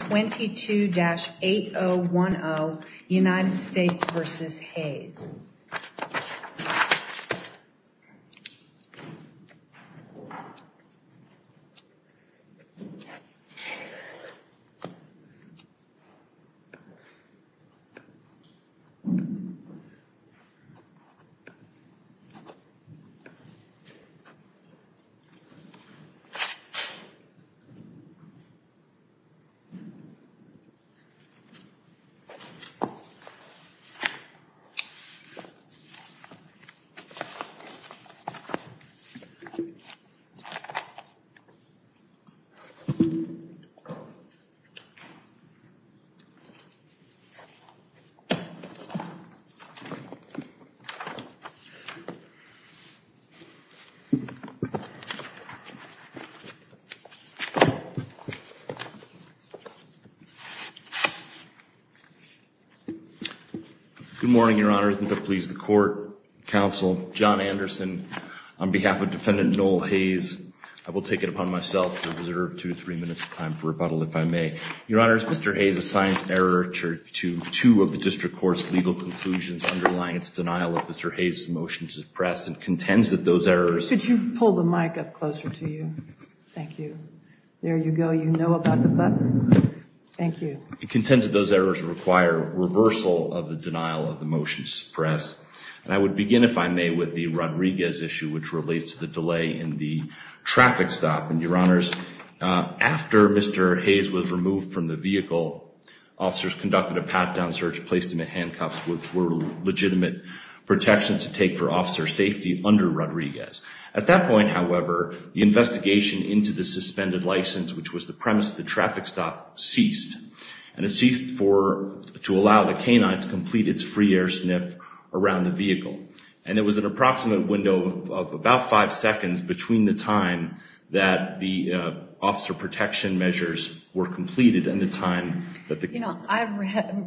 22-8010 United States versus Hays. 22-8010. Good morning, Your Honors. And if it please the court, counsel, John Anderson, on behalf of Defendant Noel Hayes, I will take it upon myself to reserve two or three minutes of time for rebuttal, if I may. Your Honors, Mr. Hayes assigns error to two of the district court's legal conclusions underlying its denial of Mr. Hayes' motion to suppress and contends that those errors Should you pull the mic up closer to you? Thank you. There you go. You know about the button. Thank you. It contends that those errors require reversal of the denial of the motion to suppress. And I would begin, if I may, with the Rodriguez issue, which relates to the delay in the traffic stop. And, Your Honors, after Mr. Hayes was removed from the vehicle, officers conducted a pat-down search, placed him in handcuffs, which were legitimate protections to take for officer safety under Rodriguez. At that point, however, the investigation into the suspended license, which was the premise of the traffic stop, ceased. And it ceased to allow the canine to complete its free air sniff around the vehicle. And it was an approximate window of about five seconds between the time that the officer protection measures were completed You know, I've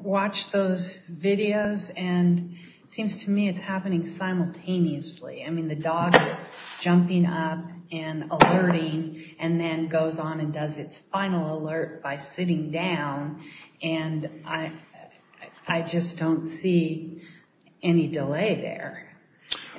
watched those videos, and it seems to me it's happening simultaneously. I mean, the dog is jumping up and alerting, and then goes on and does its final alert by sitting down. And I just don't see any delay there.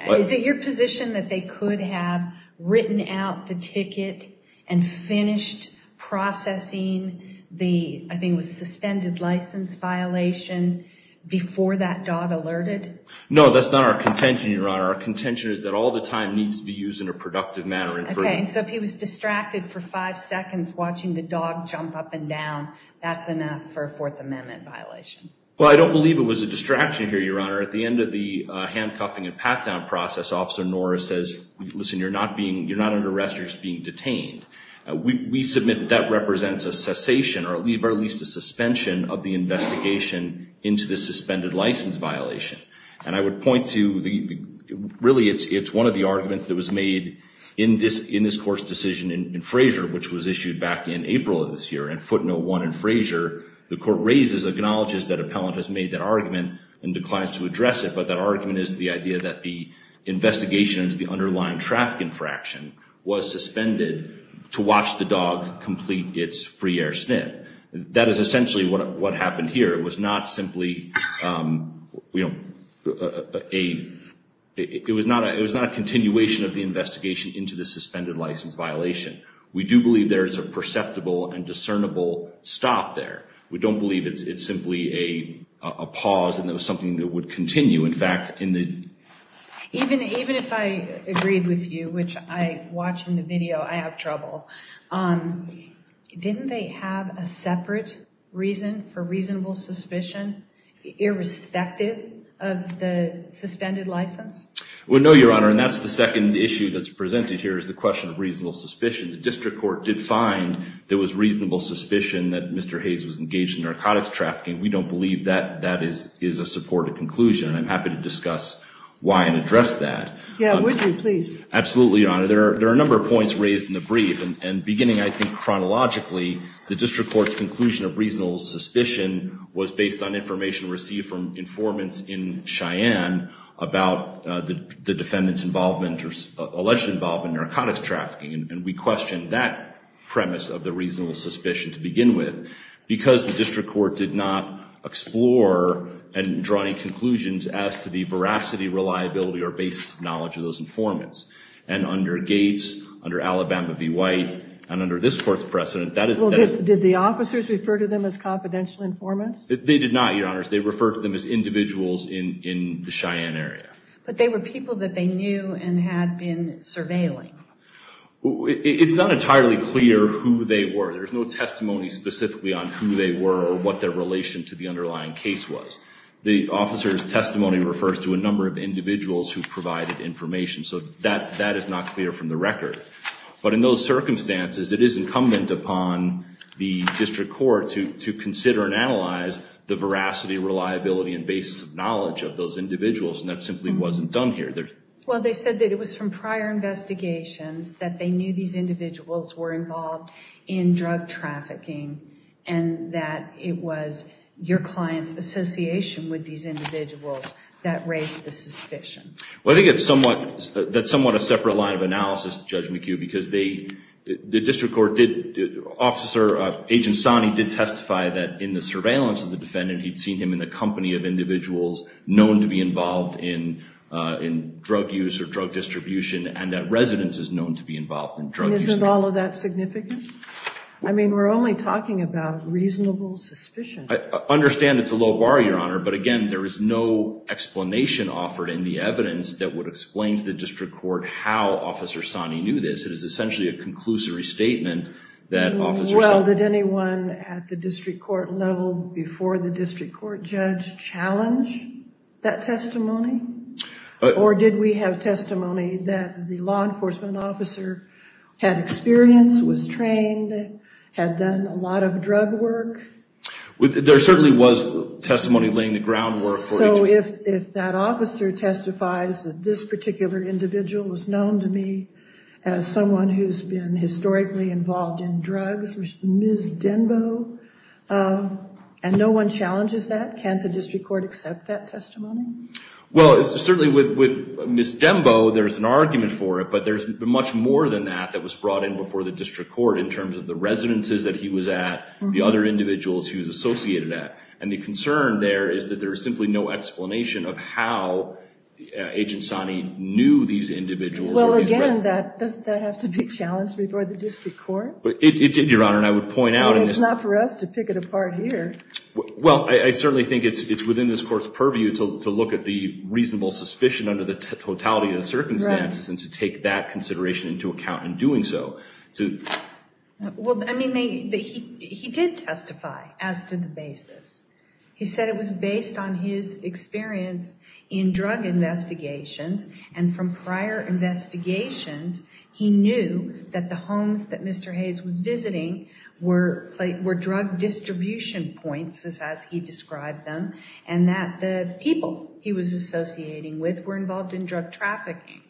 Is it your position that they could have written out the ticket and finished processing the, I think it was suspended license violation, before that dog alerted? No, that's not our contention, Your Honor. Our contention is that all the time needs to be used in a productive manner. Okay, so if he was distracted for five seconds watching the dog jump up and down, that's enough for a Fourth Amendment violation. Well, I don't believe it was a distraction here, Your Honor. At the end of the handcuffing and pat-down process, Officer Norris says, Listen, you're not under arrest, you're just being detained. We submit that that represents a cessation, or at least a suspension, of the investigation into the suspended license violation. And I would point to, really, it's one of the arguments that was made in this Court's decision in Frazier, which was issued back in April of this year, in footnote one in Frazier. The Court raises, acknowledges that appellant has made that argument and declines to address it, but that argument is the idea that the investigation into the underlying traffic infraction was suspended to watch the dog complete its free air sniff. That is essentially what happened here. It was not simply a continuation of the investigation into the suspended license violation. We do believe there is a perceptible and discernible stop there. We don't believe it's simply a pause and that it was something that would continue. In fact, in the... Even if I agreed with you, which I watch in the video, I have trouble. Didn't they have a separate reason for reasonable suspicion, irrespective of the suspended license? Well, no, Your Honor. And that's the second issue that's presented here, is the question of reasonable suspicion. The District Court did find there was reasonable suspicion that Mr. Hayes was engaged in narcotics trafficking. We don't believe that that is a supported conclusion. And I'm happy to discuss why and address that. Yeah, would you, please? Absolutely, Your Honor. There are a number of points raised in the brief. And beginning, I think, chronologically, the District Court's conclusion of reasonable suspicion was based on information received from informants in Cheyenne about the defendant's involvement or alleged involvement in narcotics trafficking. And we questioned that premise of the reasonable suspicion to begin with because the District Court did not explore and draw any conclusions as to the veracity, reliability, or base knowledge of those informants. And under Gates, under Alabama v. White, and under this Court's precedent, that is... Did the officers refer to them as confidential informants? They did not, Your Honor. They referred to them as individuals in the Cheyenne area. But they were people that they knew and had been surveilling. It's not entirely clear who they were. There's no testimony specifically on who they were or what their relation to the underlying case was. The officer's testimony refers to a number of individuals who provided information. So that is not clear from the record. But in those circumstances, it is incumbent upon the District Court to consider and analyze the veracity, reliability, and basis of knowledge of those individuals. And that simply wasn't done here. Well, they said that it was from prior investigations that they knew these individuals were involved in drug trafficking and that it was your client's association with these individuals that raised the suspicion. Well, I think that's somewhat a separate line of analysis, Judge McHugh, because the District Court officer, Agent Sani, did testify that in the surveillance of the defendant, he'd seen him in the company of individuals known to be involved in drug use or drug distribution and that residents is known to be involved in drug use. And isn't all of that significant? I mean, we're only talking about reasonable suspicion. I understand it's a low bar, Your Honor. But again, there is no explanation offered in the evidence that would explain to the District Court how Officer Sani knew this. It is essentially a conclusory statement that Officer Sani— Well, did anyone at the District Court level before the District Court judge challenge that testimony? Or did we have testimony that the law enforcement officer had experience, was trained, had done a lot of drug work? There certainly was testimony laying the groundwork for— So if that officer testifies that this particular individual was known to me as someone who's been historically involved in drugs, Ms. Denbo, and no one challenges that, can't the District Court accept that testimony? Well, certainly with Ms. Denbo, there's an argument for it, but there's much more than that that was brought in before the District Court in terms of the residences that he was at, the other individuals he was associated at. And the concern there is that there is simply no explanation of how Agent Sani knew these individuals. Well, again, doesn't that have to be challenged before the District Court? It did, Your Honor, and I would point out— But it's not for us to pick it apart here. Well, I certainly think it's within this Court's purview to look at the reasonable suspicion under the totality of the circumstances and to take that consideration into account in doing so. Well, I mean, he did testify as to the basis. He said it was based on his experience in drug investigations, and from prior investigations, he knew that the homes that Mr. Hayes was visiting were drug distribution points, as he described them, and that the people he was associating with were involved in drug trafficking.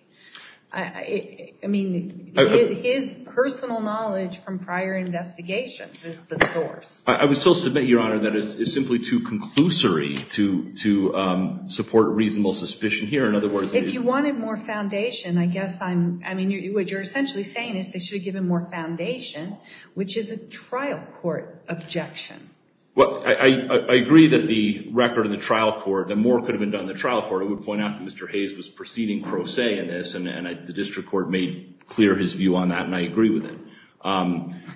I mean, his personal knowledge from prior investigations is the source. I would still submit, Your Honor, that it is simply too conclusory to support reasonable suspicion here. In other words— If you wanted more foundation, I guess I'm— I mean, what you're essentially saying is they should have given more foundation, which is a trial court objection. Well, I agree that the record of the trial court, that more could have been done in the trial court. I would point out that Mr. Hayes was proceeding pro se in this, and the district court made clear his view on that, and I agree with it.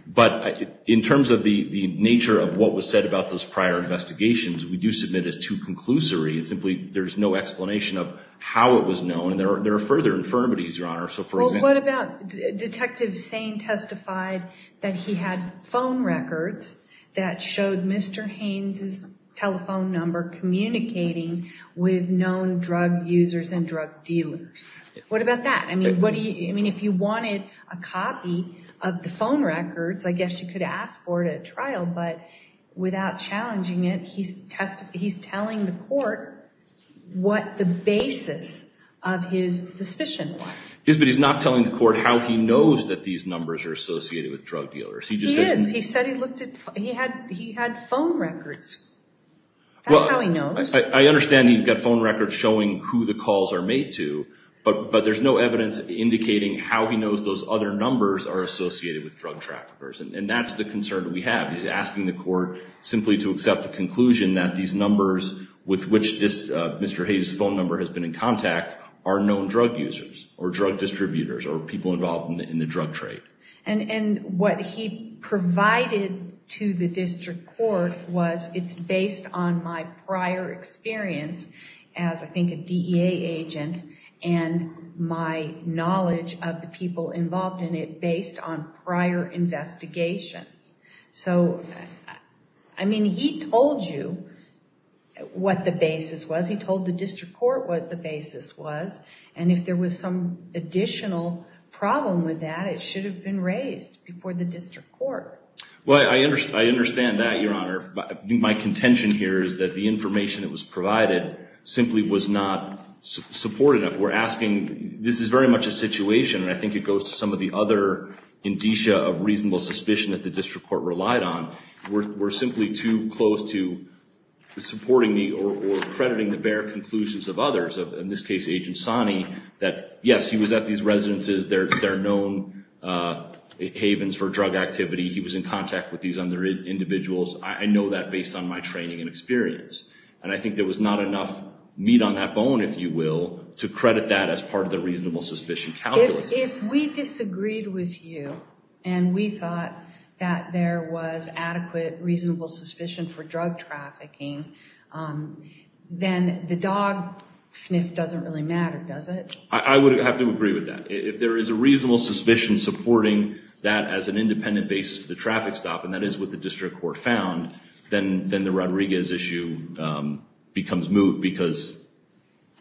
But in terms of the nature of what was said about those prior investigations, we do submit it's too conclusory. Simply, there's no explanation of how it was known. There are further infirmities, Your Honor, so for example— Well, what about—Detective Sain testified that he had phone records that showed Mr. Hayes' telephone number communicating with known drug users and drug dealers. What about that? I mean, if you wanted a copy of the phone records, I guess you could ask for it at trial, but without challenging it, he's telling the court what the basis of his suspicion was. Yes, but he's not telling the court how he knows that these numbers are associated with drug dealers. He just says— He had phone records. That's how he knows. I understand he's got phone records showing who the calls are made to, but there's no evidence indicating how he knows those other numbers are associated with drug traffickers, and that's the concern that we have. He's asking the court simply to accept the conclusion that these numbers with which Mr. Hayes' phone number has been in contact are known drug users or drug distributors or people involved in the drug trade. What he provided to the district court was, it's based on my prior experience as, I think, a DEA agent and my knowledge of the people involved in it based on prior investigations. I mean, he told you what the basis was. He told the district court what the basis was, and if there was some additional problem with that, it should have been raised before the district court. Well, I understand that, Your Honor. My contention here is that the information that was provided simply was not supportive. We're asking—this is very much a situation, and I think it goes to some of the other indicia of reasonable suspicion that the district court relied on. We're simply too close to supporting or crediting the bare conclusions of others, in this case, Agent Sani, that, yes, he was at these residences. They're known havens for drug activity. He was in contact with these other individuals. I know that based on my training and experience, and I think there was not enough meat on that bone, if you will, to credit that as part of the reasonable suspicion calculus. If we disagreed with you and we thought that there was adequate reasonable suspicion for drug trafficking, then the dog sniff doesn't really matter, does it? I would have to agree with that. If there is a reasonable suspicion supporting that as an independent basis for the traffic stop, and that is what the district court found, then the Rodriguez issue becomes moot because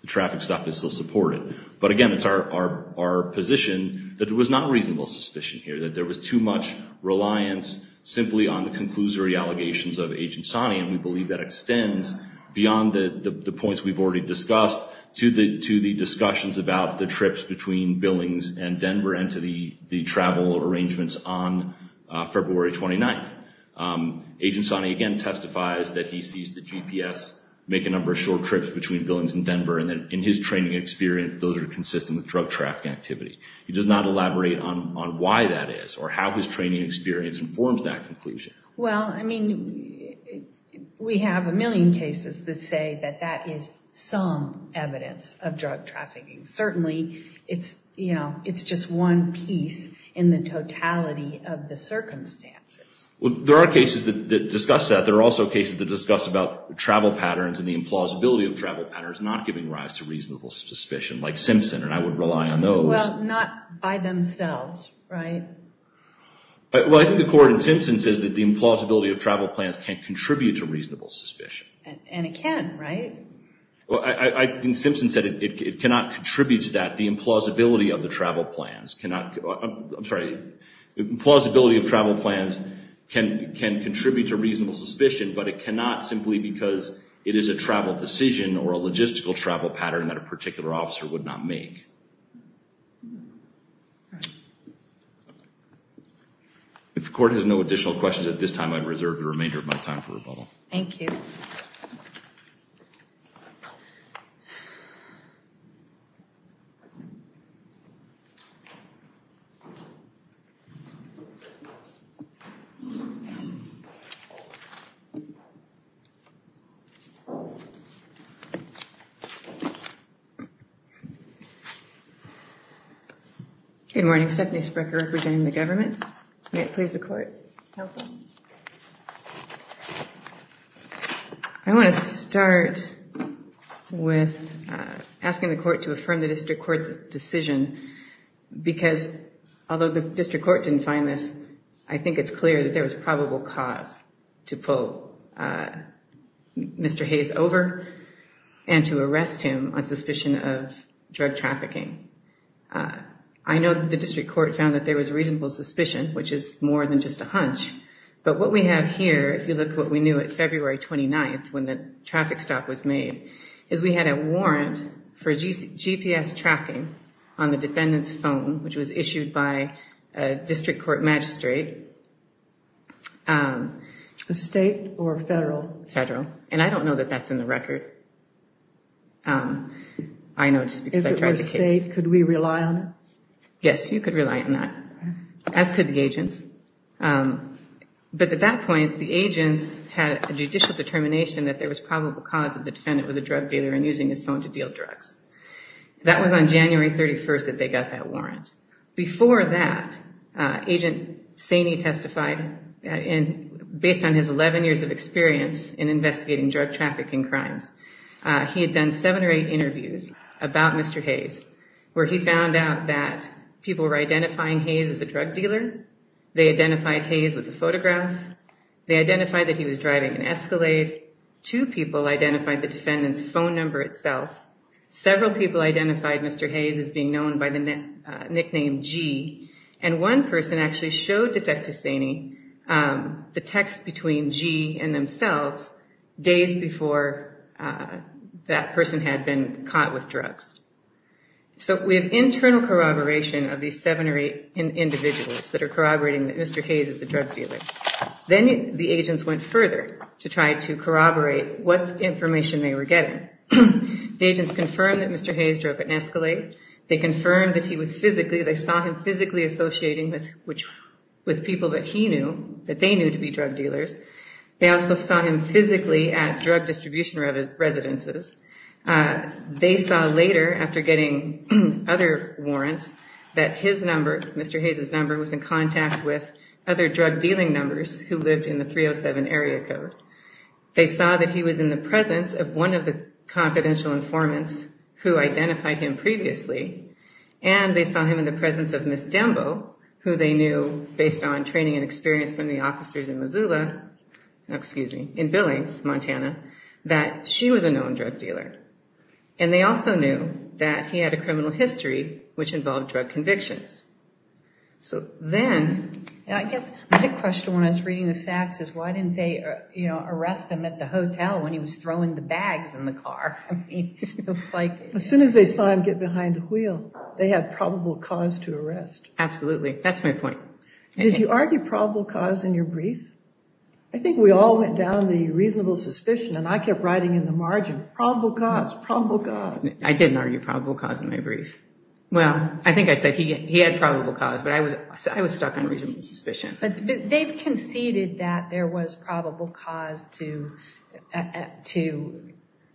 the traffic stop is still supported. But again, it's our position that there was not reasonable suspicion here, that there was too much reliance simply on the conclusory allegations of Agent Sani, and we believe that extends beyond the points we've already discussed to the discussions about the trips between Billings and Denver and to the travel arrangements on February 29th. Agent Sani, again, testifies that he sees the GPS make a number of short trips between Billings and Denver, and that in his training experience, those are consistent with drug trafficking activity. He does not elaborate on why that is or how his training experience informs that conclusion. Well, I mean, we have a million cases that say that that is some evidence of drug trafficking. Certainly, it's just one piece in the totality of the circumstances. Well, there are cases that discuss that. There are also cases that discuss about travel patterns and the implausibility of travel patterns not giving rise to reasonable suspicion, like Simpson, and I would rely on those. Well, not by themselves, right? Well, I think the court in Simpson says that the implausibility of travel plans can contribute to reasonable suspicion. And it can, right? Well, I think Simpson said it cannot contribute to that. The implausibility of the travel plans cannot – I'm sorry. The implausibility of travel plans can contribute to reasonable suspicion, but it cannot simply because it is a travel decision or a logistical travel pattern that a particular officer would not make. If the court has no additional questions at this time, I reserve the remainder of my time for rebuttal. Thank you. Good morning. Stephanie Sprecher representing the government. May it please the court. Counsel. I want to start with asking the court to affirm the district court's decision because although the district court didn't find this, I think it's clear that there was probable cause to pull Mr. Hayes over and to arrest him on suspicion of drug trafficking. I know that the district court found that there was reasonable suspicion, which is more than just a hunch, but what we have here, if you look at what we knew at February 29th, when the traffic stop was made, is we had a warrant for GPS tracking on the defendant's phone, which was issued by a district court magistrate. A state or federal? Federal. And I don't know that that's in the record. I know just because I tried the case. If it were state, could we rely on it? Yes, you could rely on that, as could the agents. But at that point, the agents had a judicial determination that there was probable cause that the defendant was a drug dealer and using his phone to deal drugs. That was on January 31st that they got that warrant. Before that, Agent Saney testified, and based on his 11 years of experience in investigating drug trafficking crimes, he had done seven or eight interviews about Mr. Hayes, where he found out that people were identifying Hayes as a drug dealer. They identified Hayes with a photograph. They identified that he was driving an Escalade. Two people identified the defendant's phone number itself. Several people identified Mr. Hayes as being known by the nickname G, and one person actually showed Detective Saney the text between G and themselves days before that person had been caught with drugs. So we have internal corroboration of these seven or eight individuals that are corroborating that Mr. Hayes is a drug dealer. Then the agents went further to try to corroborate what information they were getting. The agents confirmed that Mr. Hayes drove an Escalade. They confirmed that he was physically, they saw him physically associating with people that he knew, that they knew to be drug dealers. They also saw him physically at drug distribution residences. They saw later, after getting other warrants, that his number, Mr. Hayes's number, was in contact with other drug dealing numbers who lived in the 307 area code. They saw that he was in the presence of one of the confidential informants who identified him previously, and they saw him in the presence of Ms. Dembo, who they knew based on training and experience from the officers in Missoula, excuse me, in Billings, Montana, that she was a known drug dealer. And they also knew that he had a criminal history which involved drug convictions. So then... I guess my question when I was reading the facts is why didn't they arrest him at the hotel when he was throwing the bags in the car? I mean, it was like... As soon as they saw him get behind the wheel, they had probable cause to arrest. Absolutely. That's my point. Did you argue probable cause in your brief? I think we all went down the reasonable suspicion, and I kept writing in the margin, probable cause, probable cause. I didn't argue probable cause in my brief. Well, I think I said he had probable cause, but I was stuck on reasonable suspicion. But they've conceded that there was probable cause to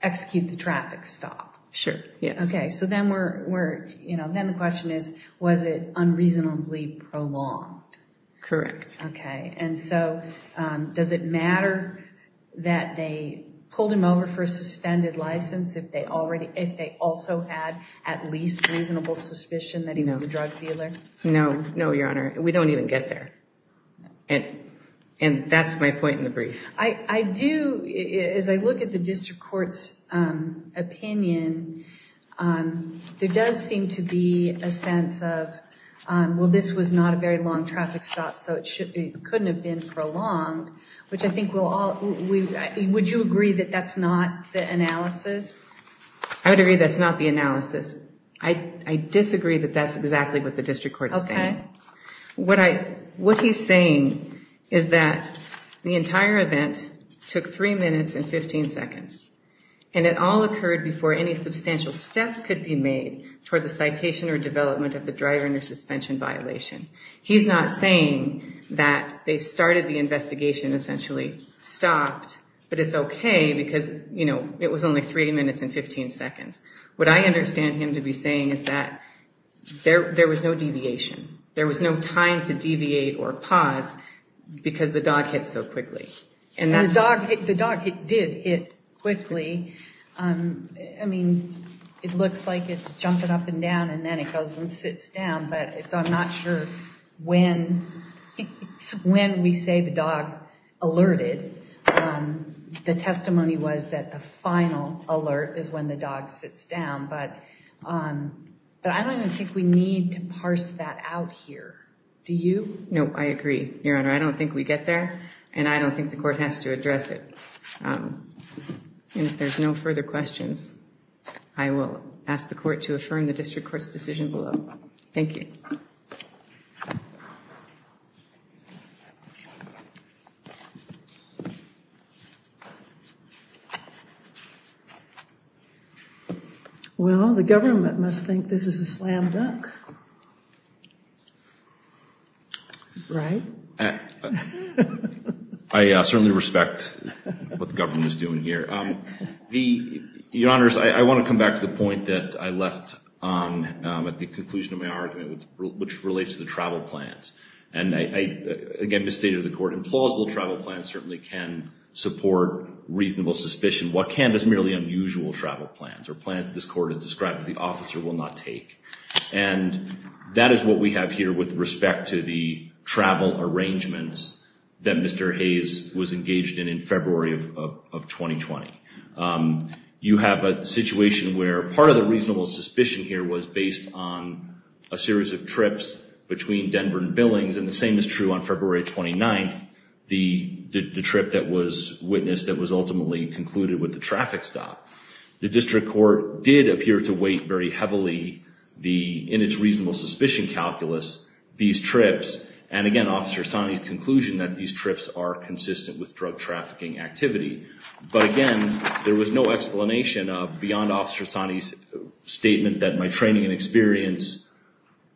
execute the traffic stop. Sure, yes. Okay, so then the question is, was it unreasonably prolonged? Correct. Okay, and so does it matter that they pulled him over for a suspended license if they also had at least reasonable suspicion that he was a drug dealer? No, no, Your Honor. We don't even get there. And that's my point in the brief. I do... As I look at the district court's opinion, there does seem to be a sense of, well, this was not a very long traffic stop, so it couldn't have been prolonged, which I think we'll all... Would you agree that that's not the analysis? I would agree that's not the analysis. I disagree that that's exactly what the district court is saying. What he's saying is that the entire event took 3 minutes and 15 seconds, and it all occurred before any substantial steps could be made toward the citation or development of the driver under suspension violation. He's not saying that they started the investigation, essentially stopped, but it's okay because, you know, it was only 3 minutes and 15 seconds. What I understand him to be saying is that there was no deviation. There was no time to deviate or pause because the dog hit so quickly. And the dog did hit quickly. I mean, it looks like it's jumping up and down, and then it goes and sits down. So I'm not sure when we say the dog alerted. The testimony was that the final alert is when the dog sits down. But I don't even think we need to parse that out here. Do you? No, I agree, Your Honor. I don't think we get there, and I don't think the court has to address it. And if there's no further questions, I will ask the court to affirm the district court's decision below. Thank you. Well, the government must think this is a slam dunk. Right? I certainly respect what the government is doing here. Your Honors, I want to come back to the point that I left at the conclusion of my argument, which relates to the travel plans. And I, again, misstated the court. Implausible travel plans certainly can support reasonable suspicion. What can is merely unusual travel plans or plans that this court has described that the officer will not take. And that is what we have here with respect to the travel arrangements that Mr. Hayes was engaged in in February of 2020. You have a situation where part of the reasonable suspicion here was based on a series of trips between Denver and Billings, and the same is true on February 29th, the trip that was witnessed that was ultimately concluded with the traffic stop. The district court did appear to weight very heavily in its reasonable suspicion calculus these trips. And, again, Officer Sani's conclusion that these trips are consistent with drug trafficking activity. But, again, there was no explanation beyond Officer Sani's statement that my training and experience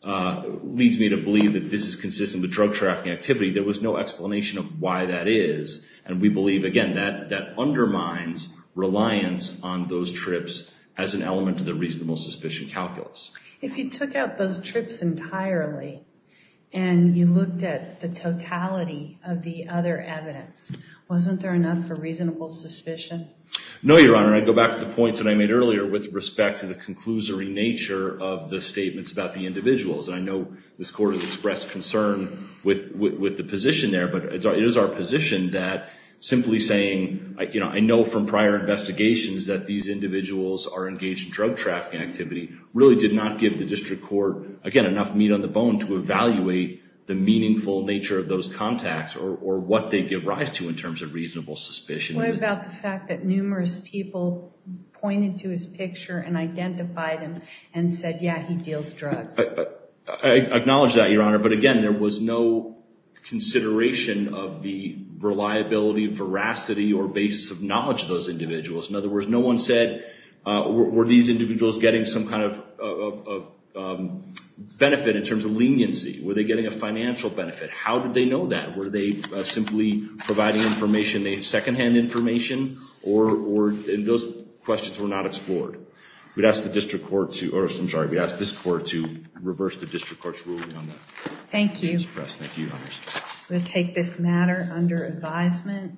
leads me to believe that this is consistent with drug trafficking activity. There was no explanation of why that is. And we believe, again, that undermines reliance on those trips as an element of the reasonable suspicion calculus. If you took out those trips entirely and you looked at the totality of the other evidence, wasn't there enough for reasonable suspicion? No, Your Honor. I go back to the points that I made earlier with respect to the conclusory nature of the statements about the individuals. And I know this court has expressed concern with the position there, but it is our position that simply saying, you know, I know from prior investigations that these individuals are engaged in drug trafficking activity really did not give the district court, again, enough meat on the bone to evaluate the meaningful nature of those contacts or what they give rise to in terms of reasonable suspicion. What about the fact that numerous people pointed to his picture and identified him and said, yeah, he deals drugs? I acknowledge that, Your Honor. But again, there was no consideration of the reliability, veracity, or basis of knowledge of those individuals. In other words, no one said, were these individuals getting some kind of benefit in terms of leniency? Were they getting a financial benefit? How did they know that? Were they simply providing information, secondhand information? Those questions were not explored. We ask this court to reverse the district court's ruling on that. Thank you. Thank you, Your Honor. We'll take this matter under advisement.